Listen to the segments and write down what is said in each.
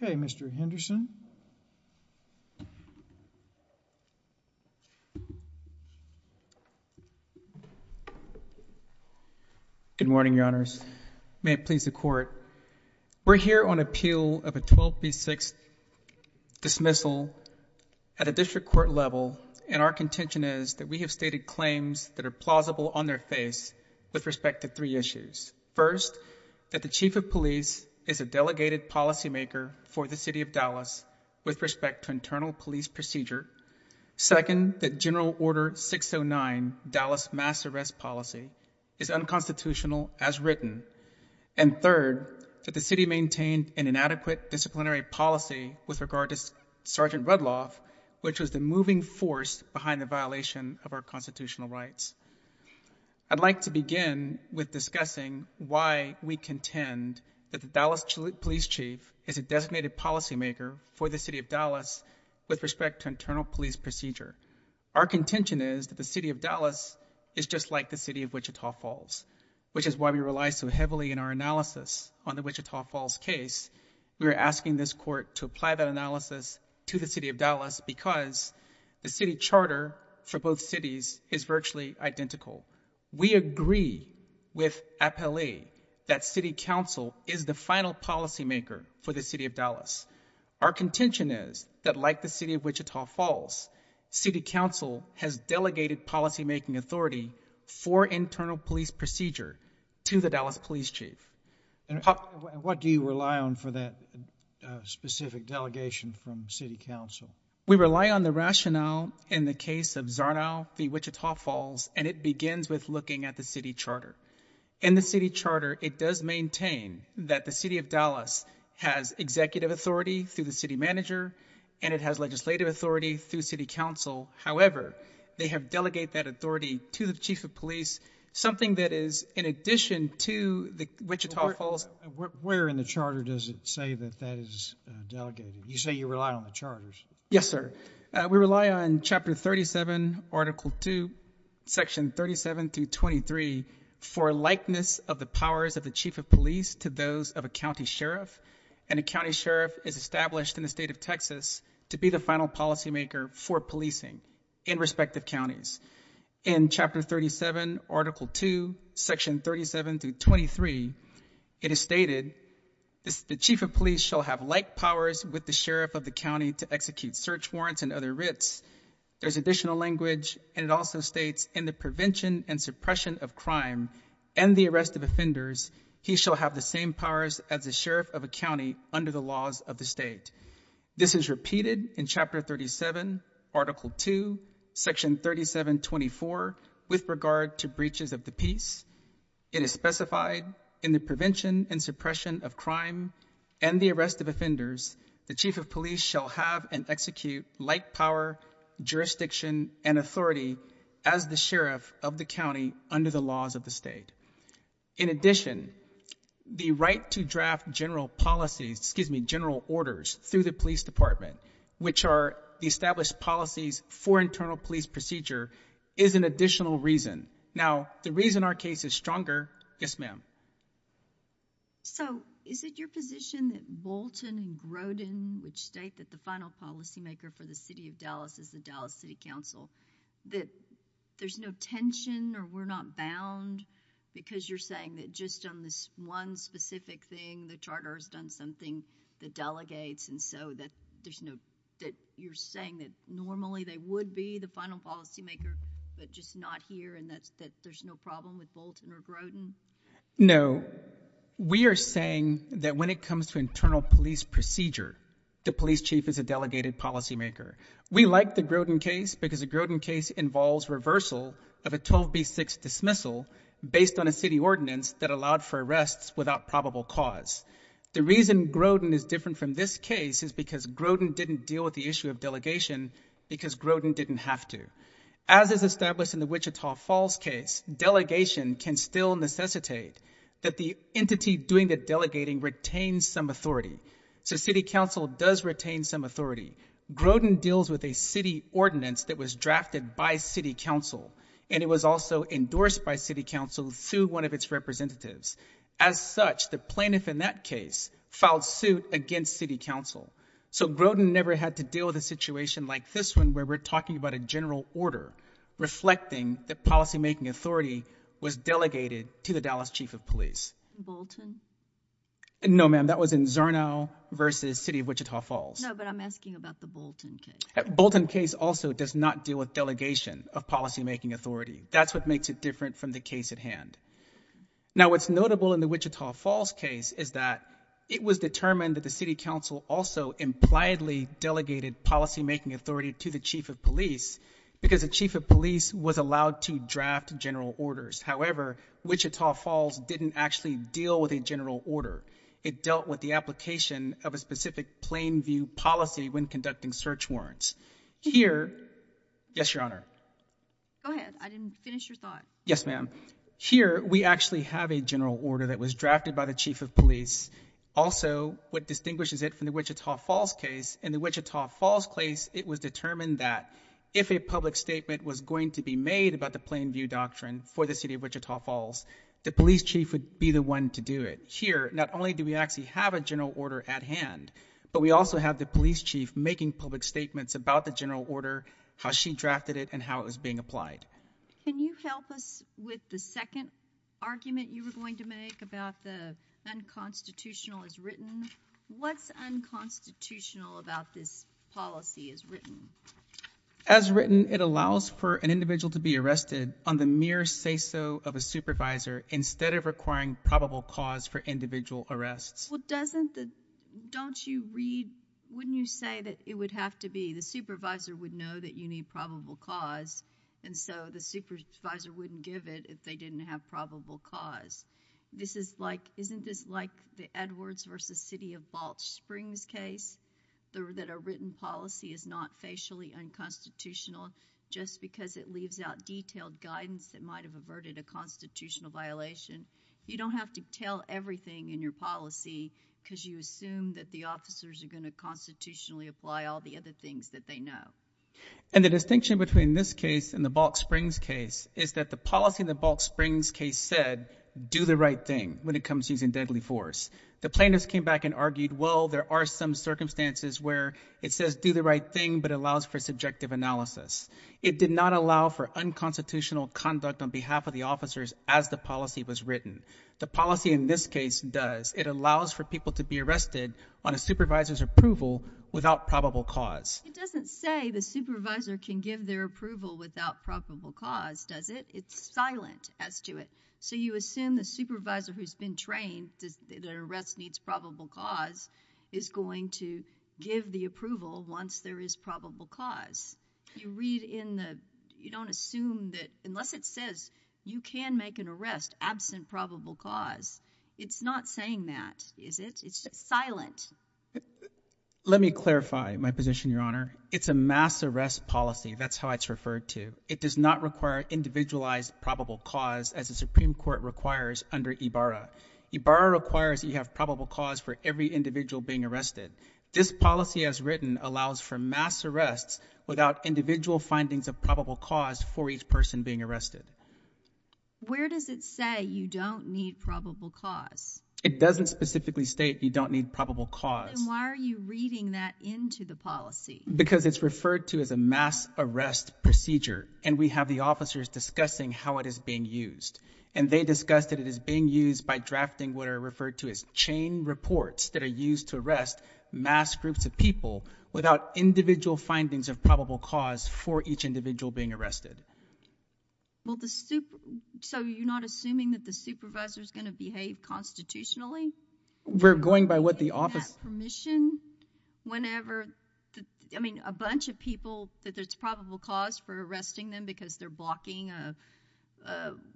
The Good morning, your honors. May it please the court. We're here on appeal of a 12B6 dismissal at a district court level, and our contention is that we have stated claims that are plausible on their face with respect to three issues. First, that the chief of police is a delegated policymaker for the city of Dallas with respect to internal police procedure. Second, that general order 609, Dallas mass arrest policy, is unconstitutional as written. And third, that the city maintained an inadequate disciplinary policy with regard to Sergeant Rudloff, which was the moving force behind the violation of our constitutional rights. I'd like to policymaker for the city of Dallas with respect to internal police procedure. Our contention is that the city of Dallas is just like the city of Wichita Falls, which is why we rely so heavily in our analysis on the Wichita Falls case. We are asking this court to apply that analysis to the city of Dallas because the city charter for both cities is virtually identical. We agree with appellee that city council is the final policymaker for the city of Dallas. Our contention is that like the city of Wichita Falls, city council has delegated policymaking authority for internal police procedure to the Dallas police chief. What do you rely on for that specific delegation from city council? We rely on the rationale in the case of Zarnow v. Wichita Falls, and it begins with looking at the city charter. In the city charter, it does maintain that the city of Dallas has executive authority through the city manager, and it has legislative authority through city council. However, they have delegated that authority to the chief of police, something that is in addition to the Wichita Falls. Where in the charter does it say that that is delegated? You say you rely on the charters. Yes, sir. We rely on Chapter 37, Article 2, Section 37 through 23 for likeness of the powers of the chief of police to those of a county sheriff, and a county sheriff is established in the state of Texas to be the final policymaker for policing in respective counties. In Chapter 37, Article 2, Section 37 through 23, it is stated the chief of police shall have like powers with the sheriff of the county to execute search warrants and other writs. There's additional language, and it also states in the prevention and suppression of crime and the arrest of offenders, he shall have the same powers as the sheriff of a county under the laws of the state. This is repeated in Chapter 37, Article 2, Section 37, 24, with regard to breaches of the peace. It is specified in the prevention and suppression of crime and the arrest of offenders, the chief of police shall have and execute like power, jurisdiction and authority as the sheriff of the county under the laws of the state. In addition, the right to draft general policies, excuse me, general orders through the police department, which are the established policies for internal police procedure, is an additional reason. Now, the reason our case is stronger, yes ma'am. So is it your position that Bolton and Grodin, which state that the final policymaker for the city of Dallas is the Dallas City Council, that there's no tension or we're not bound because you're saying that just on this one specific thing, the charter has done something that delegates and so that there's no, that you're saying that normally they would be the final policymaker, but just not here and that there's no problem with Bolton or Grodin? No. We are saying that when it comes to internal police procedure, the police chief is a delegated policymaker. We like the Grodin case because the Grodin case involves reversal of a 12b6 dismissal based on a city ordinance that allowed for arrests without probable cause. The reason Grodin is different from this case is because Grodin didn't deal with the issue of delegation because Grodin didn't have to. As is established in the Wichita Falls case, delegation can still necessitate that the entity doing the delegating retains some authority. So city council does retain some authority. Grodin deals with a city ordinance that was drafted by city council and it was also endorsed by city council through one of its representatives. As such, the plaintiff in that case filed suit against city council. So Grodin never had to deal with a situation like this one where we're talking about a general order reflecting the policymaking authority was delegated to the Dallas chief of police. Bolton? No, ma'am. That was in Zarnow versus city of Wichita Falls. No, but I'm asking about the Bolton case. Bolton case also does not deal with delegation of policymaking authority. That's what makes it different from the case at hand. Now, what's notable in the Wichita Falls case is that it was determined that the city council also impliedly delegated policymaking authority to the chief of police because the chief of police was allowed to draft general orders. However, Wichita Falls didn't actually deal with a general order. It dealt with the application of a specific plain view policy when conducting search warrants. Here, yes, your honor. Go ahead. I didn't finish your thought. Yes, ma'am. Here, we actually have a general order that was drafted by the chief of police. Also what distinguishes it from the Wichita Falls case, in the Wichita Falls case, it was determined that if a public statement was going to be made about the plain view doctrine for the city of Wichita Falls, the police chief would be the one to do it. Here, not only do we actually have a general order at hand, but we also have the police chief making public statements about the general order, how she drafted it, and how it was being applied. Can you help us with the second argument you were going to make about the unconstitutional as written? What's unconstitutional about this policy as written? As written, it allows for an individual to be arrested on the mere say-so of a supervisor instead of requiring probable cause for individual arrests. Well, doesn't the, don't you read, wouldn't you say that it would have to be, the supervisor would know that you need probable cause, and so the supervisor wouldn't give it if they didn't have probable cause. This is like, isn't this like the Edwards versus City of Wichita case? It's actually unconstitutional just because it leaves out detailed guidance that might have averted a constitutional violation. You don't have to tell everything in your policy because you assume that the officers are going to constitutionally apply all the other things that they know. And the distinction between this case and the Bulk Springs case is that the policy in the Bulk Springs case said, do the right thing when it comes to using deadly force. The plaintiffs came back and argued, well, there are some circumstances where it says do the right thing, but allows for subjective analysis. It did not allow for unconstitutional conduct on behalf of the officers as the policy was written. The policy in this case does. It allows for people to be arrested on a supervisor's approval without probable cause. It doesn't say the supervisor can give their approval without probable cause, does it? It's silent as to it. So you assume the supervisor who's been trained, their arrest needs probable cause, is going to give the approval once there is probable cause. You read in the, you don't assume that unless it says you can make an arrest absent probable cause, it's not saying that, is it? It's silent. Let me clarify my position, Your Honor. It's a mass arrest policy. That's how it's referred to. It does not require individualized probable cause as the Supreme Court requires under IBARRA. IBARRA requires that you have probable cause for every individual being arrested. This policy as written allows for mass arrests without individual findings of probable cause for each person being arrested. Where does it say you don't need probable cause? It doesn't specifically state you don't need probable cause. Then why are you reading that into the policy? Because it's referred to as a mass arrest procedure, and we have the officers discussing how it is being used, and they discuss that it is being used by drafting what are referred to as chain reports that are used to arrest mass groups of people without individual findings of probable cause for each individual being arrested. Well, the, so you're not assuming that the supervisor's going to behave constitutionally? We're going by what the office- That permission whenever, I mean, a bunch of people that there's probable cause for a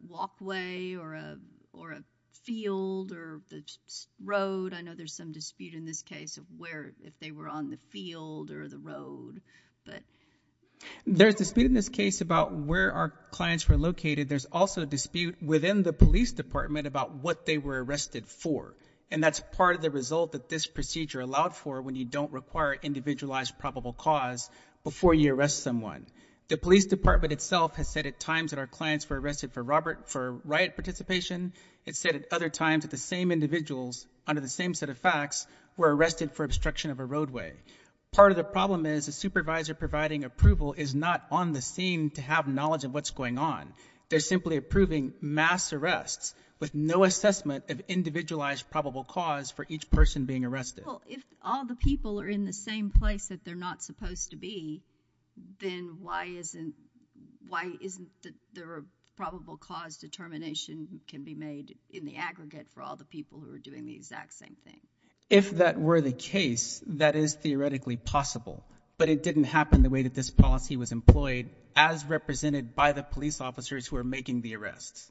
walkway or a field or the road. I know there's some dispute in this case of where, if they were on the field or the road, but- There's dispute in this case about where our clients were located. There's also dispute within the police department about what they were arrested for, and that's part of the result that this procedure allowed for when you don't require individualized probable cause before you arrest someone. The police department itself has said at times that our clients were arrested for riot participation. It's said at other times that the same individuals under the same set of facts were arrested for obstruction of a roadway. Part of the problem is the supervisor providing approval is not on the scene to have knowledge of what's going on. They're simply approving mass arrests with no assessment of individualized probable cause for each person being arrested. Well, if all the people are in the same place that they're not supposed to be, then why isn't there a probable cause determination can be made in the aggregate for all the people who are doing the exact same thing? If that were the case, that is theoretically possible, but it didn't happen the way that this policy was employed as represented by the police officers who are making the arrests.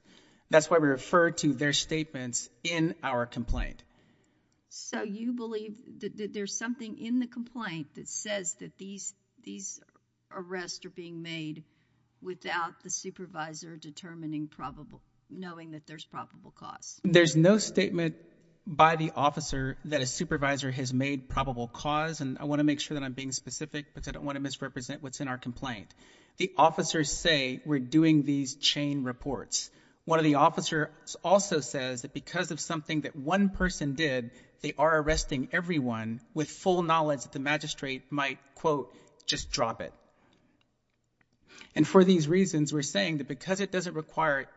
That's why we refer to their statements in our complaint. So you believe that there's something in the complaint that says that these arrests are being made without the supervisor knowing that there's probable cause? There's no statement by the officer that a supervisor has made probable cause, and I want to make sure that I'm being specific because I don't want to misrepresent what's in our complaint. The officers say we're doing these chain reports. One of the officers also says that because of something that one person did, they are arresting everyone with full knowledge that the magistrate might, quote, just drop it. And for these reasons, we're saying that because it doesn't require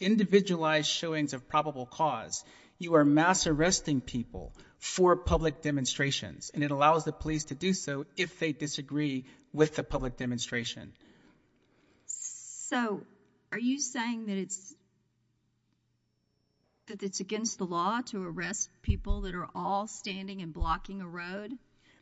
individualized showings of probable cause, you are mass arresting people for public demonstrations, and it allows the police to do so if they disagree with the public demonstration. So, are you saying that it's against the law to arrest people that are all standing and blocking a road?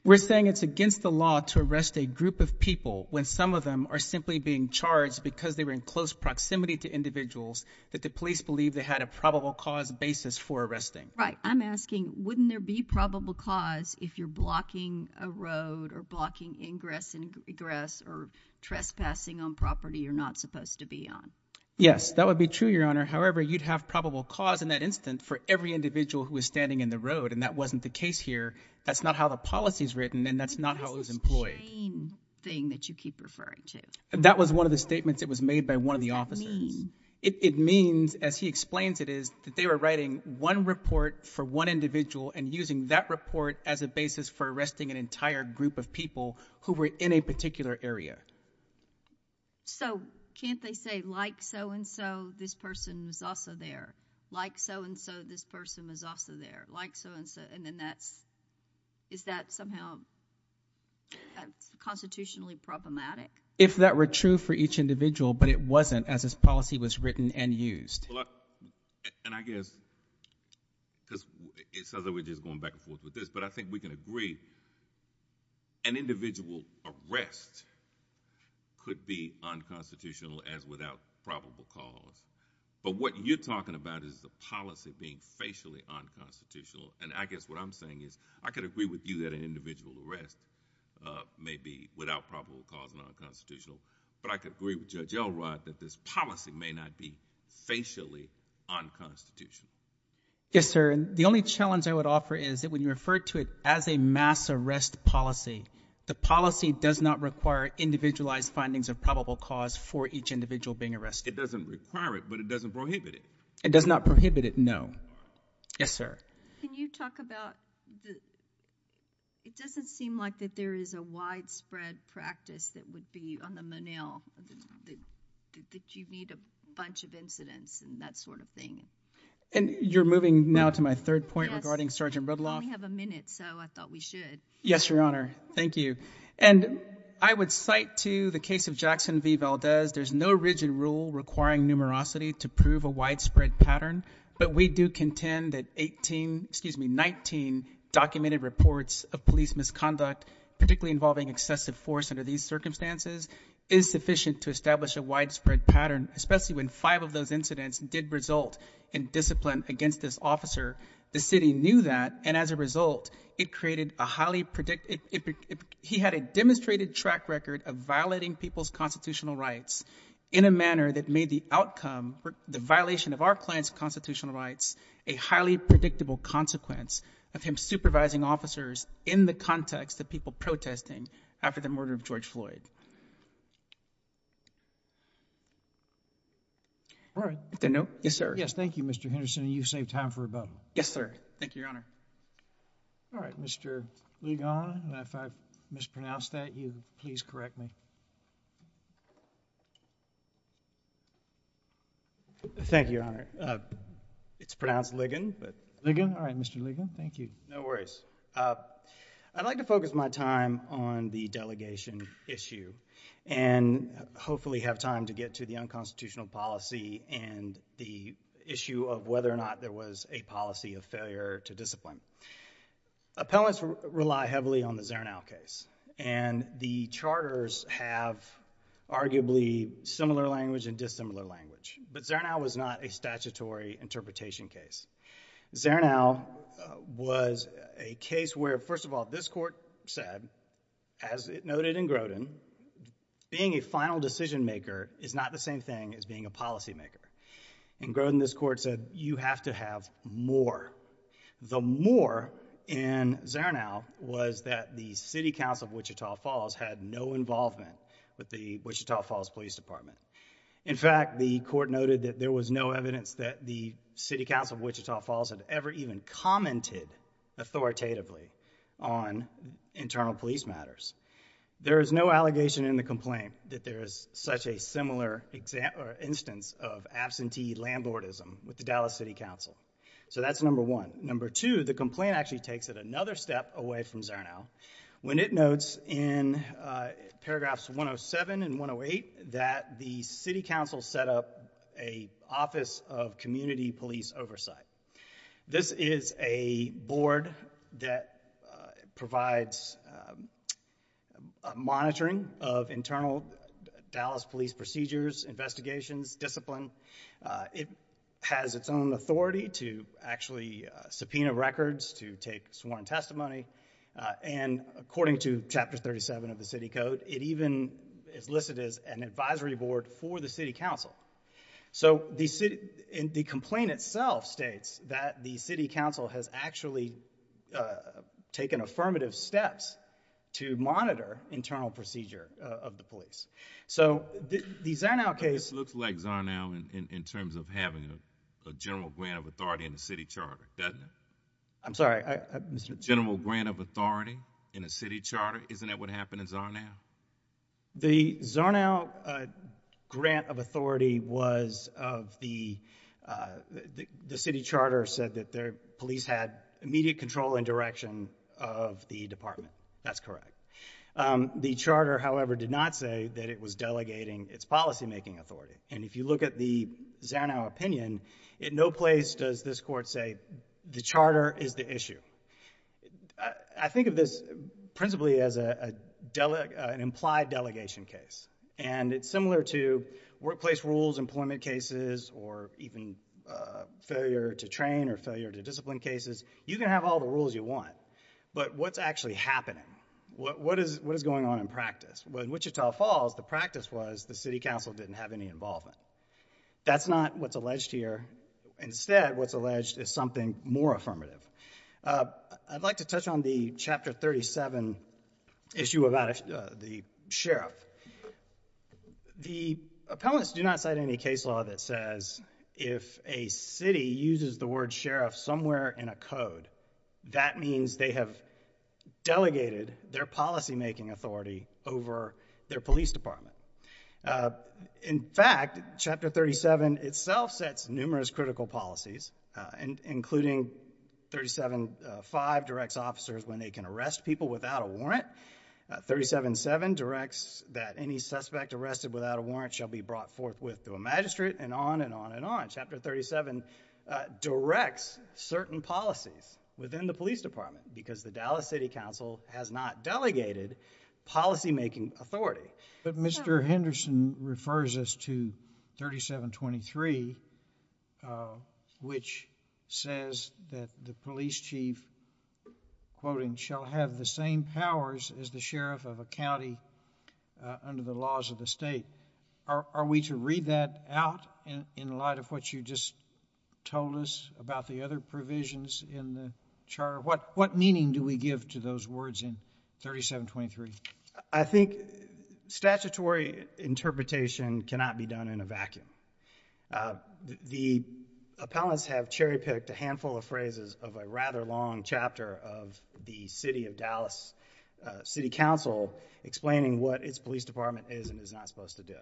We're saying it's against the law to arrest a group of people when some of them are simply being charged because they were in close proximity to individuals that the police believe they had a probable cause basis for arresting. Right. I'm asking, wouldn't there be probable cause if you're blocking a road or blocking ingress and egress or trespassing on property you're not supposed to be on? Yes, that would be true, Your Honor. However, you'd have probable cause in that instant for every individual who was standing in the road, and that wasn't the case here. That's not how the policy is written, and that's not how it was employed. What is this chain thing that you keep referring to? That was one of the statements that was made by one of the officers. What does that mean? It means, as he explains it is, that they were writing one report for one individual and using that report as a basis for arresting an entire group of people who were in a particular area. Can't they say, like so and so, this person was also there? Like so and so, this person was also there? Like so and so, and then that's, is that somehow constitutionally problematic? If that were true for each individual, but it wasn't as this policy was written and used. Well, and I guess, because it sounds like we're just going back and forth with this, but I think we can agree, an individual arrest could be unconstitutional as without probable cause, but what you're talking about is the policy being facially unconstitutional, and I guess what I'm saying is, I could agree with you that an individual arrest may be without probable cause and unconstitutional, but I could agree with Judge Elrod that this is facially unconstitutional. Yes, sir, and the only challenge I would offer is that when you refer to it as a mass arrest policy, the policy does not require individualized findings of probable cause for each individual being arrested. It doesn't require it, but it doesn't prohibit it. It does not prohibit it, no. Yes, sir? Can you talk about, it doesn't seem like that there is a widespread practice that would be on the Monell that you need a bunch of incidents and that sort of thing. And you're moving now to my third point regarding Sergeant Rudloff. Yes, we only have a minute, so I thought we should. Yes, Your Honor, thank you, and I would cite to the case of Jackson v. Valdez, there's no rigid rule requiring numerosity to prove a widespread pattern, but we do contend that 18, excuse me, 19 documented reports of police misconduct, particularly involving excessive force under these circumstances, is sufficient to establish a widespread pattern, especially when five of those incidents did result in discipline against this officer. The city knew that, and as a result, it created a highly, he had a demonstrated track record of violating people's constitutional rights in a manner that made the outcome, the violation of our client's constitutional rights, a highly predictable consequence of him supervising officers in the context of people protesting after the murder of George Floyd. All right. If there are no, yes, sir. Yes, thank you, Mr. Henderson, and you've saved time for a vote. Yes, sir. Thank you, Your Honor. All right, Mr. Ligon, and if I've mispronounced that, you please correct me. Thank you, Your Honor. It's pronounced Ligon, but... Ligon, all right, Mr. Ligon, thank you. No worries. I'd like to focus my time on the delegation issue and hopefully have time to get to the unconstitutional policy and the issue of whether or not there was a policy of failure to discipline. Appellants rely heavily on the Zernow case, and the charters have arguably similar language and dissimilar language, but Zernow was not a statutory interpretation case. Zernow was a case where, first of all, this court said, as it noted in Grodin, being a final decision maker is not the same thing as being a policymaker. In Grodin, this court said, you have to have more. The more in Zernow was that the City Council of Wichita Falls had no involvement with the Wichita Falls Police Department. In fact, the court noted that there was no evidence that the City Council of Wichita Falls had ever even commented authoritatively on internal police matters. There is no allegation in the complaint that there is such a similar instance of absentee landlordism with the Dallas City Council. So that's number one. Number two, the complaint actually takes it another step away from Zernow when it notes in paragraphs 107 and 108 that the City Council set up an Office of Community Police Oversight. This is a board that provides monitoring of internal Dallas police procedures, investigations, discipline. It has its own authority to actually subpoena records, to take sworn testimony, and according to Chapter 37 of the City Code, it even is listed as an advisory board for the City Council. So the complaint itself states that the City Council has actually taken affirmative steps to monitor internal procedure of the police. So the Zernow case... But this looks like Zernow in terms of having a general grant of authority in the city charter, doesn't it? I'm sorry. General grant of authority in a city charter, isn't that what happened in Zernow? The Zernow grant of authority was of the... the city charter said that the police had immediate control and direction of the department. That's correct. The charter, however, did not say that it was delegating its policymaking authority. And if you look at the Zernow opinion, in no place does this court say the charter is the issue. I think of this principally as an implied delegation case. And it's similar to workplace rules, employment cases, or even failure to train or failure to discipline cases. You can have all the rules you want, but what's actually happening? What is going on in practice? In Wichita Falls, the practice was the city council didn't have any involvement. That's not what's alleged here. Instead, what's alleged is something more affirmative. I'd like to touch on the Chapter 37 issue about the sheriff. The appellants do not cite any case law that says if a city uses the word sheriff somewhere in a code, that means they have delegated their policymaking authority over their police department. In fact, Chapter 37 itself sets numerous critical policies, including 37.5 directs officers when they can arrest people without a warrant. 37.7 directs that any suspect arrested without a warrant shall be brought forthwith to a magistrate and on and on and on. Chapter 37 directs certain policies within the police department because the Dallas City Council has not delegated policymaking authority. But Mr. Henderson refers us to 37.23, which says that the police chief, quoting, shall have the same powers as the sheriff of a county under the laws of the state. Are we to read that out in light of what you just told us about the other provisions in the Charter? What meaning do we give to those words in 37.23? I think statutory interpretation cannot be done in a vacuum. The appellants have cherry-picked a handful of phrases of a rather long chapter of the City of Dallas City Council explaining what its police department is and is not supposed to do.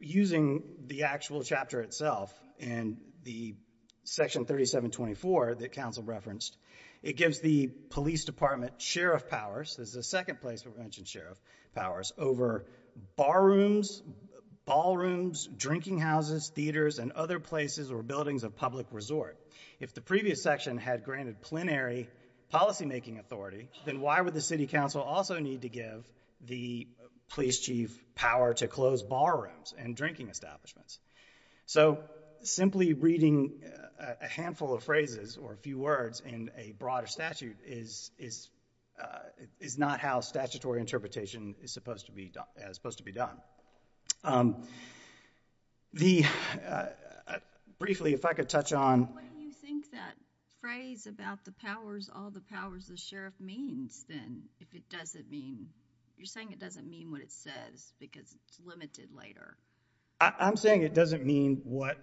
Using the actual chapter itself and the Section 37.24 that Council referenced, it gives the police department sheriff powers, this is the second place we've mentioned sheriff powers, over bar rooms, ballrooms, drinking houses, theaters, and other places or buildings of public resort. If the previous section had granted plenary policymaking authority, then why would the City Council also need to give the police chief power to close bar rooms and drinking establishments? So simply reading a handful of phrases or a few words in a broader statute is not how statutory interpretation is supposed to be done. Briefly, if I could touch on... What do you think that phrase about the powers, all the powers the sheriff means, then, if it doesn't mean... You're saying it doesn't mean what it says because it's limited later. I'm saying it doesn't mean what...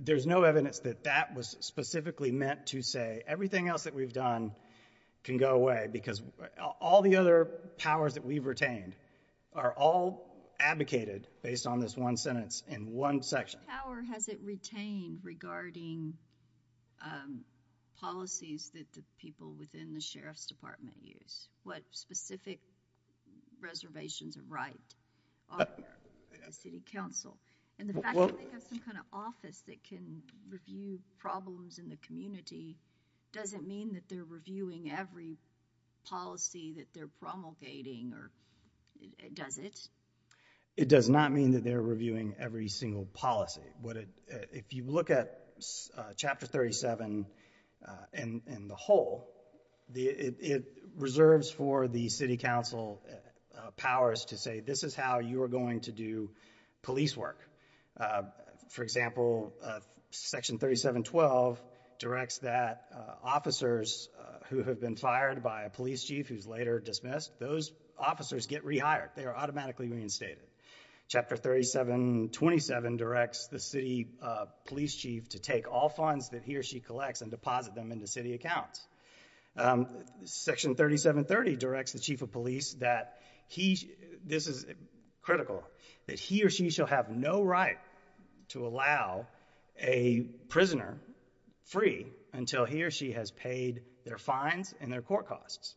There's no evidence that that was specifically meant to say everything else that we've done can go away because all the other powers that we've retained are all advocated based on this one sentence in one section. What power has it retained regarding policies that the people within the Sheriff's Department use? What specific reservations of right are there with the City Council? The fact that they have some kind of office that can review problems in the community doesn't mean that they're reviewing every policy that they're promulgating, does it? It does not mean that they're reviewing every single policy. If you look at Chapter 37 and the whole, it reserves for the City Council powers to say this is how you are going to do police work. For example, Section 3712 directs that officers who have been fired by a police chief who's later dismissed, those officers get rehired. They are automatically reinstated. Chapter 3727 directs the city police chief to take all funds that he or she collects and deposit them into city accounts. Section 3730 directs the chief of police that he, this is critical, that he or she shall have no right to allow a prisoner free until he or she has paid their fines and their court costs.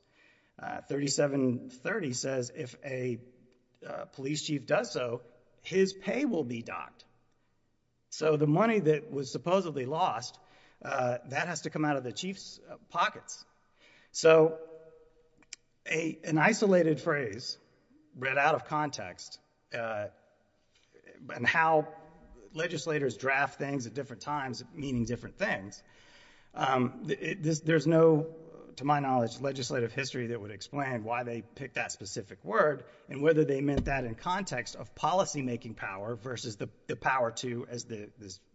3730 says if a police chief does so, his pay will be docked. The money that was supposedly lost, that has to come out of the chief's pockets. So an isolated phrase, read out of context, and how legislators draft things at different times meaning different things, there's no, to my knowledge, legislative history that would explain why they picked that specific word and whether they meant that in context of policymaking power versus the power to, as the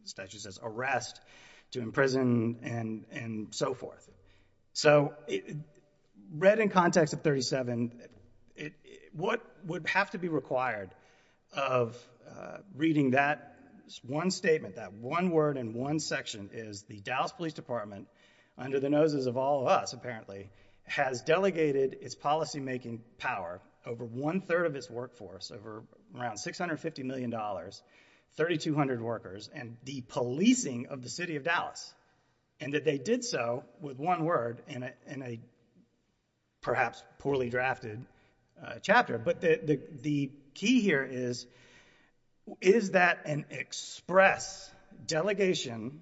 statute says, arrest, to imprison, and so forth. So read in context of 37, what would have to be required of reading that one statement, that one word in one section is the Dallas Police Department, under the noses of all of us apparently, has delegated its policymaking power over one-third of its workforce, over around $650 million, 3,200 workers, and the policing of the city of Dallas. And that they did so with one word in a perhaps poorly drafted chapter. But the key here is, is that an express delegation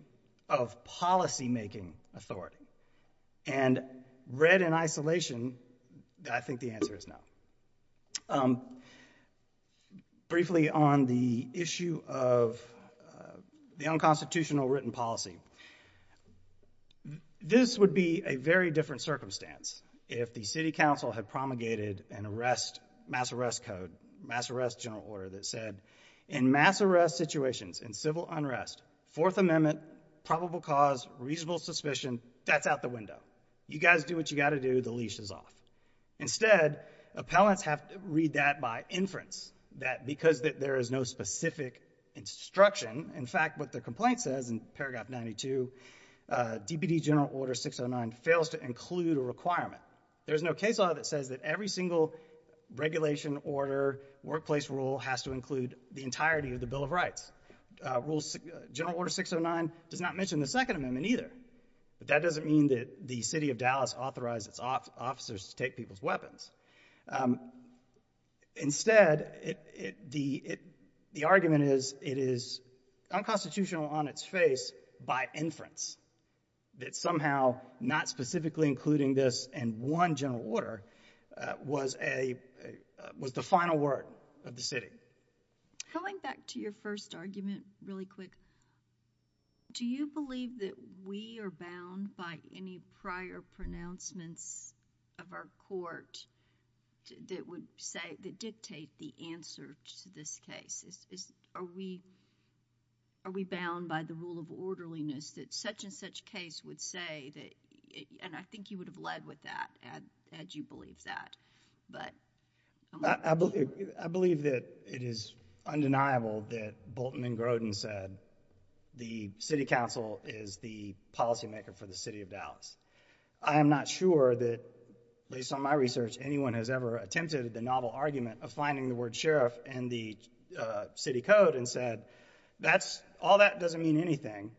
of policymaking authority? And read in isolation, I think the answer is no. Briefly, on the issue of the unconstitutional written policy, this would be a very different circumstance if the city council had promulgated an arrest, mass arrest code, mass arrest general order that said, in mass arrest situations, in civil unrest, Fourth Amendment, probable cause, reasonable suspicion, that's out the window. You guys do what you gotta do, the leash is off. Instead, appellants have to read that by inference, that because there is no specific instruction, in fact what the complaint says in paragraph 92, DPD General Order 609 fails to include a requirement. There's no case law that says that every single regulation, order, workplace rule has to include the entirety of the Bill of Rights. General Order 609 does not mention the Second Amendment either. That doesn't mean that the city of Dallas authorized its officers to take people's weapons. Instead, the argument is, it is unconstitutional on its face by inference, that somehow, not specifically including this in one general order, was a, was the final word of the city. Going back to your first argument really quick, do you believe that we are bound by any prior pronouncements of our court that would say, that dictate the answer to this case? Are we, are we bound by the rule of orderliness that such and such case would say that, and I think you would have led with that, had you believed that, but... I believe, I believe that it is undeniable that Bolton and Grodin said the city council is the policymaker for the city of Dallas. I am not sure that, based on my research, anyone has ever attempted the novel argument of finding the word sheriff in the city code and said, that's, all that doesn't mean anything,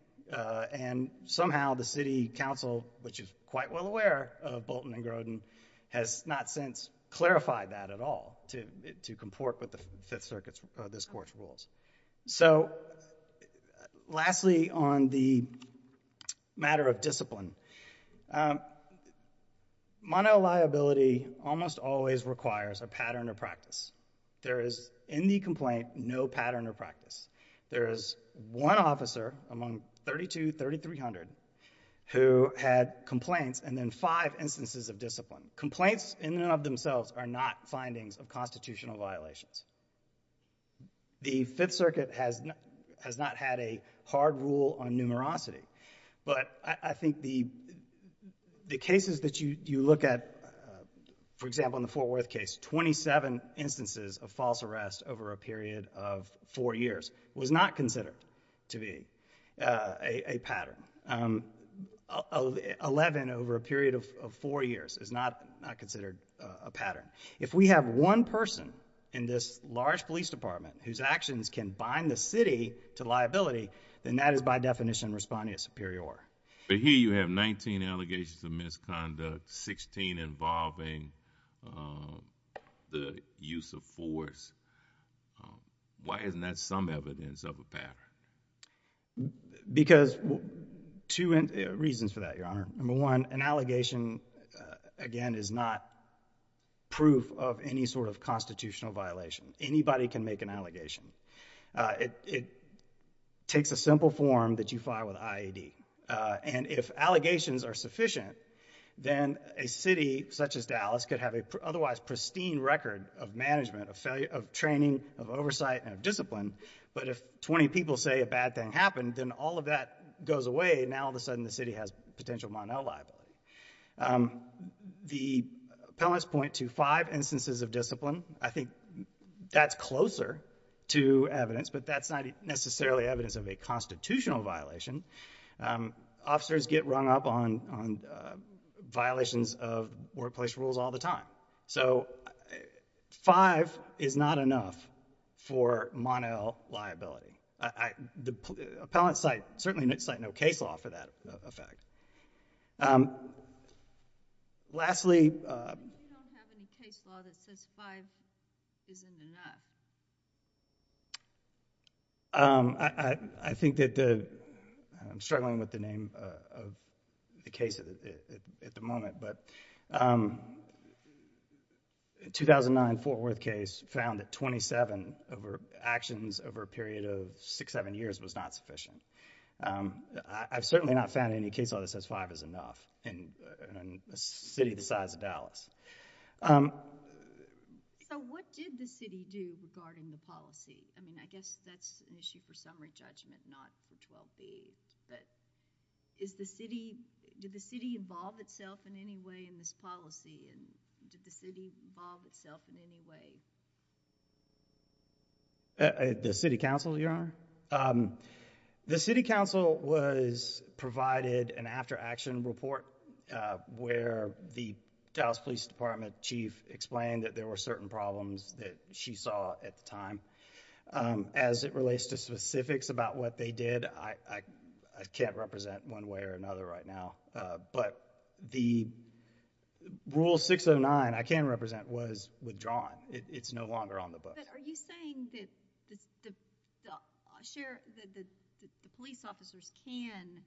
and somehow the city council, which is quite well aware of Bolton and Grodin, has not since clarified that at all to comport with the Fifth Circuit's, this court's rules. So lastly, on the matter of discipline, monoliability almost always requires a pattern of practice. There is, in the complaint, no pattern of practice. There is one officer among 32, 3300 who had complaints and then five instances of discipline. Complaints in and of themselves are not findings of constitutional violations. The Fifth Circuit has not had a hard rule on numerosity, but I think the, the cases that you look at, for example, in the Fort Worth case, 27 instances of false arrest over a period of four years was not considered to be a pattern. 11 over a period of four years is not considered a pattern. If we have one person in this large police department whose actions can bind the city to liability, then that is by definition responding as superior. But here you have 19 allegations of misconduct, 16 involving the use of force. Because, two reasons for that, Your Honor, number one, an allegation, again, is not proof of any sort of constitutional violation. Anybody can make an allegation. It takes a simple form that you file with IAD. And if allegations are sufficient, then a city such as Dallas could have an otherwise pristine record of management, of training, of oversight, and of discipline. But if 20 people say a bad thing happened, then all of that goes away, now all of a sudden the city has potential Mon-El liability. The appellants point to five instances of discipline. I think that's closer to evidence, but that's not necessarily evidence of a constitutional violation. Officers get rung up on, on violations of workplace rules all the time. So, five is not enough for Mon-El liability. The appellant's site, certainly no case law for that effect. Lastly. We don't have any case law that says five isn't enough. Um, I, I, I think that the, I'm struggling with the name of the case at the, at the moment, but, um, a 2009 Fort Worth case found that 27 over, actions over a period of six, seven years was not sufficient. Um, I, I've certainly not found any case law that says five is enough in, in a city the size of Dallas. Um. So, what did the city do regarding the policy? I mean, I guess that's an issue for summary judgment, not for 12B, but is the city, did the city involve itself in any way in this policy, and did the city involve itself in The city council, Your Honor? Um, the city council was provided an after-action report, uh, where the Dallas Police Department chief explained that there were certain problems that she saw at the time. Um, as it relates to specifics about what they did, I, I, I can't represent one way or another right now, uh, but the rule 609 I can represent was withdrawn. It's no longer on the book. But are you saying that the, the, the sheriff, the, the, the police officers can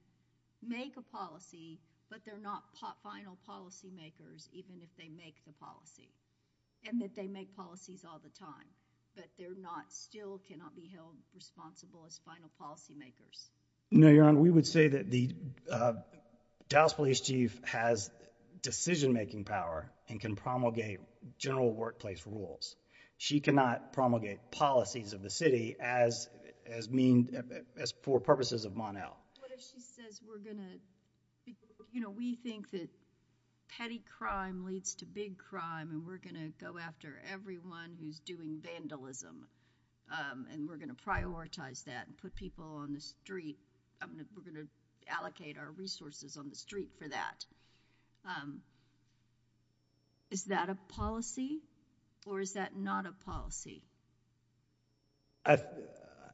make a policy but they're not final policy makers even if they make the policy, and that they make policies all the time, but they're not, still cannot be held responsible as final policy makers? No, Your Honor. We would say that the, uh, Dallas police chief has decision-making power and can promulgate general workplace rules. She cannot promulgate policies of the city as, as mean, as for purposes of Mon-El. What if she says we're going to, you know, we think that petty crime leads to big crime and we're going to go after everyone who's doing vandalism, um, and we're going to prioritize that and put people on the street, um, we're going to allocate our resources on the street for that. Um, is that a policy or is that not a policy? I,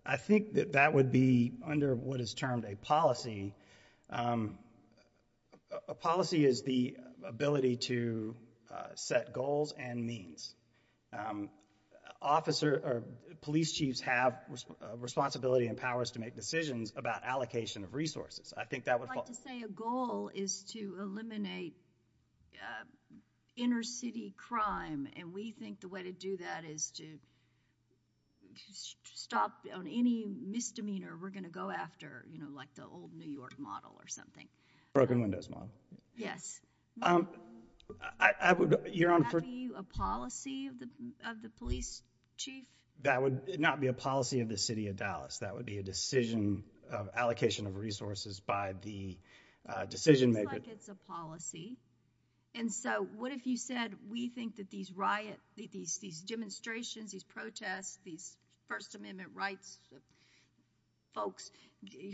I think that that would be under what is termed a policy, um, a policy is the ability to, uh, set goals and means. Um, officer, or police chiefs have responsibility and powers to make decisions about allocation of resources. I think that would fall. I'd like to say a goal is to eliminate, uh, inner city crime and we think the way to do that is to stop on any misdemeanor we're going to go after, you know, like the old New York model or something. Broken windows model. Yes. Um, I, I would, Your Honor. Would that be a policy of the, of the police chief? That would not be a policy of the city of Dallas. That would be a decision of allocation of resources by the, uh, decision maker. It looks like it's a policy and so what if you said we think that these riots, these, these demonstrations, these protests, these first amendment rights folks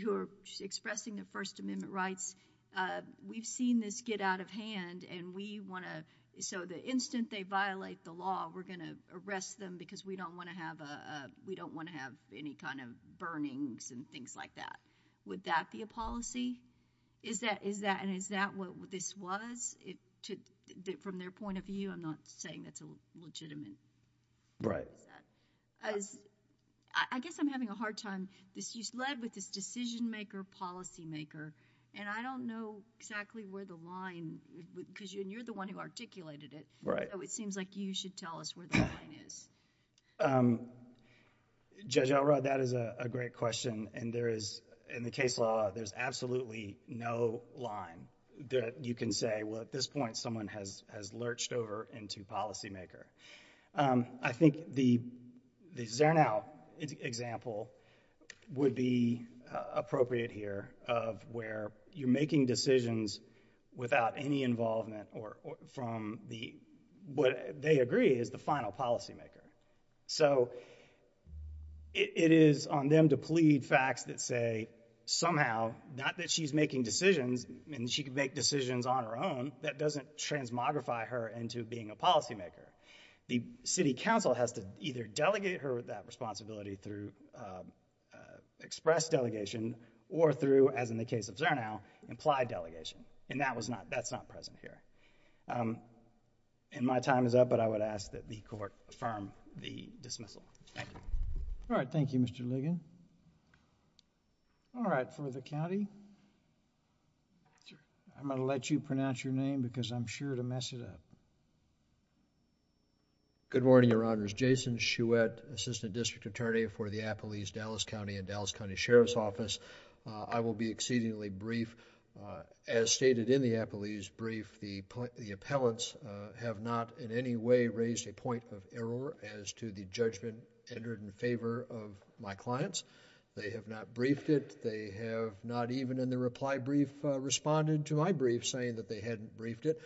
who are expressing their first amendment rights, uh, we've seen this get out of hand and we want to, so the instant they violate the law, we're going to arrest them because we don't want to have a, a, we don't want to have any kind of burnings and things like that. Would that be a policy? Is that, is that, and is that what this was? It took, from their point of view, I'm not saying that's a legitimate, right? As I guess I'm having a hard time. This used to lead with this decision maker, policy maker, and I don't know exactly where the line, cause you, and you're the one who articulated it, so it seems like you should tell us where the line is. Um, Judge Elrod, that is a, a great question and there is, in the case law, there's absolutely no line that you can say, well, at this point someone has, has lurched over into policy maker. Um, I think the, the Zernow example would be, uh, appropriate here of where you're making decisions without any involvement or, or from the, what they agree is the final policy maker. So it, it is on them to plead facts that say somehow, not that she's making decisions and she can make decisions on her own, that doesn't transmogrify her into being a policy maker. The city council has to either delegate her that responsibility through, uh, uh, express delegation or through, as in the case of Zernow, implied delegation. And that was not, that's not present here. Um, and my time is up, but I would ask that the Court affirm the dismissal. Thank you. All right. Thank you, Mr. Ligon. All right. For the county, I'm going to let you pronounce your name because I'm sure to mess it up. Good morning, Your Honors. My name is Pete Ligon. I represent the district court's jury in favor of the Zernow case. I'm here in support of the Zernow case. I will be exceedingly brief. As stated in the appellee's brief, the, the appellants have not in any way raised a point of error as to the judgment entered in favor of my clients. They have not briefed it. They have not even in their reply brief, uh, responded to my brief saying that they hadn't briefed it.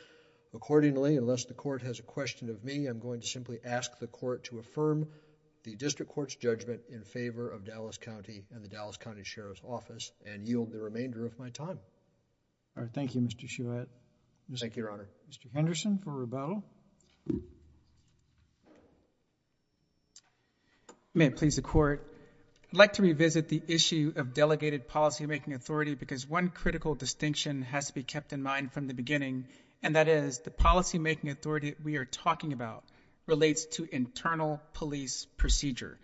Accordingly, unless the court has a question of me, I'm going to simply ask the court to share his office and yield the remainder of my time. All right. Thank you, Mr. Shouhet. Thank you, Your Honor. Mr. Henderson for rebuttal. May it please the court. I'd like to revisit the issue of delegated policymaking authority because one critical distinction has to be kept in mind from the beginning and that is the policymaking authority we are talking about relates to internal police procedure.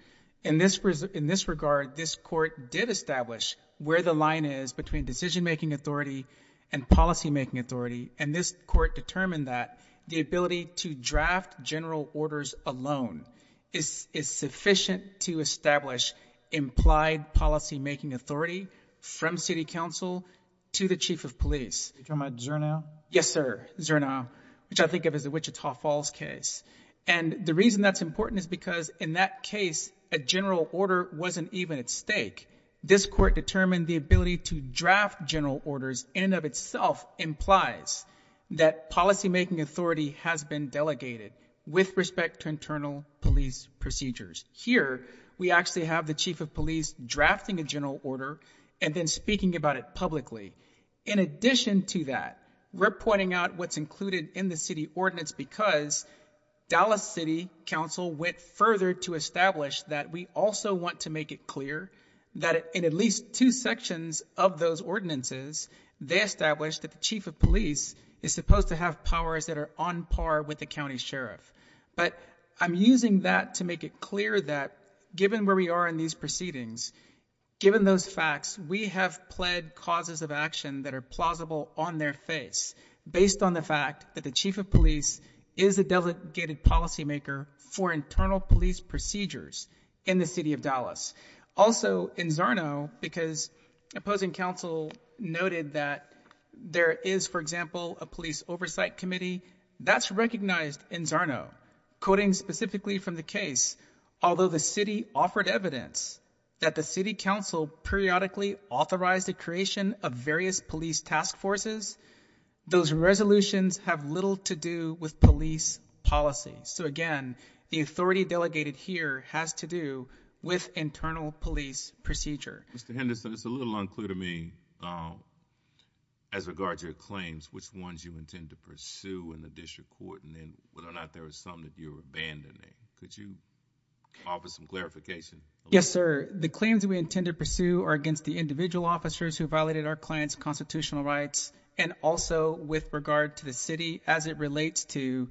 In this, in this regard, this court did establish where the line is between decision-making authority and policymaking authority. And this court determined that the ability to draft general orders alone is, is sufficient to establish implied policymaking authority from city council to the chief of police. Are you talking about Zernow? Yes, sir. Zernow, which I think of as the Wichita Falls case. And the reason that's important is because in that case, a general order wasn't even at stake. This court determined the ability to draft general orders in and of itself implies that policymaking authority has been delegated with respect to internal police procedures. Here we actually have the chief of police drafting a general order and then speaking about it publicly. In addition to that, we're pointing out what's included in the city ordinance because Dallas City Council went further to establish that we also want to make it clear that in at least two sections of those ordinances, they established that the chief of police is supposed to have powers that are on par with the county sheriff. But I'm using that to make it clear that given where we are in these proceedings, given those facts, we have pled causes of action that are plausible on their face based on the fact that the chief of police is a delegated policymaker for internal police procedures in the city of Dallas. Also in Zernow, because opposing council noted that there is, for example, a police oversight committee that's recognized in Zernow, quoting specifically from the case, although the city offered evidence that the city council periodically authorized the creation of various police task forces, those resolutions have little to do with police policy. So again, the authority delegated here has to do with internal police procedure. Mr. Henderson, it's a little unclear to me as regards your claims, which ones you intend to pursue in the district court and then whether or not there was something that you were abandoning. Could you offer some clarification? Yes, sir. The claims we intend to pursue are against the individual officers who violated our client's constitutional rights and also with regard to the city as it relates to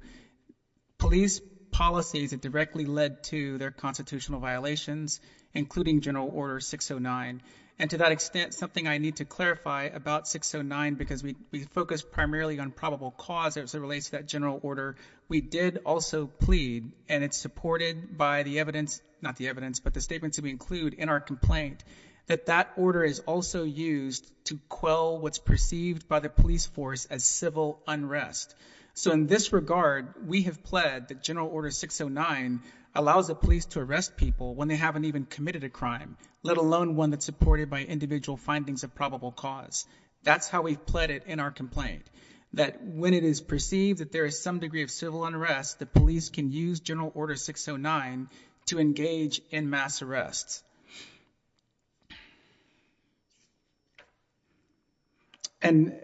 police policies that directly led to their constitutional violations, including General Order 609. And to that extent, something I need to clarify about 609, because we focus primarily on probable cause as it relates to that general order, we did also plead, and it's supported by the evidence, not the evidence, but the statements that we include in our complaint, that that order is also used to quell what's perceived by the police force as civil unrest. So in this regard, we have pled that General Order 609 allows the police to arrest people when they haven't even committed a crime, let alone one that's supported by individual findings of probable cause. That's how we've pled it in our complaint, that when it is perceived that there is some degree of civil unrest, the police can use General Order 609 to engage in mass arrests. And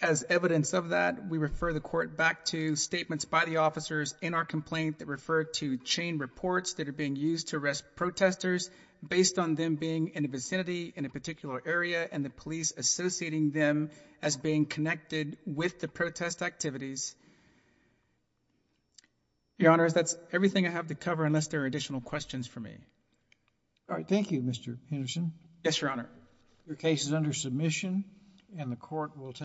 as evidence of that, we refer the court back to statements by the officers in our complaint that refer to chain reports that are being used to arrest protesters based on them being in a vicinity, in a particular area, and the police associating them as being connected with the protest activities. Your Honor, that's everything I have to cover unless there are additional questions for me. All right. Thank you, Mr. Henderson. Yes, Your Honor. Your case is under submission, and the court will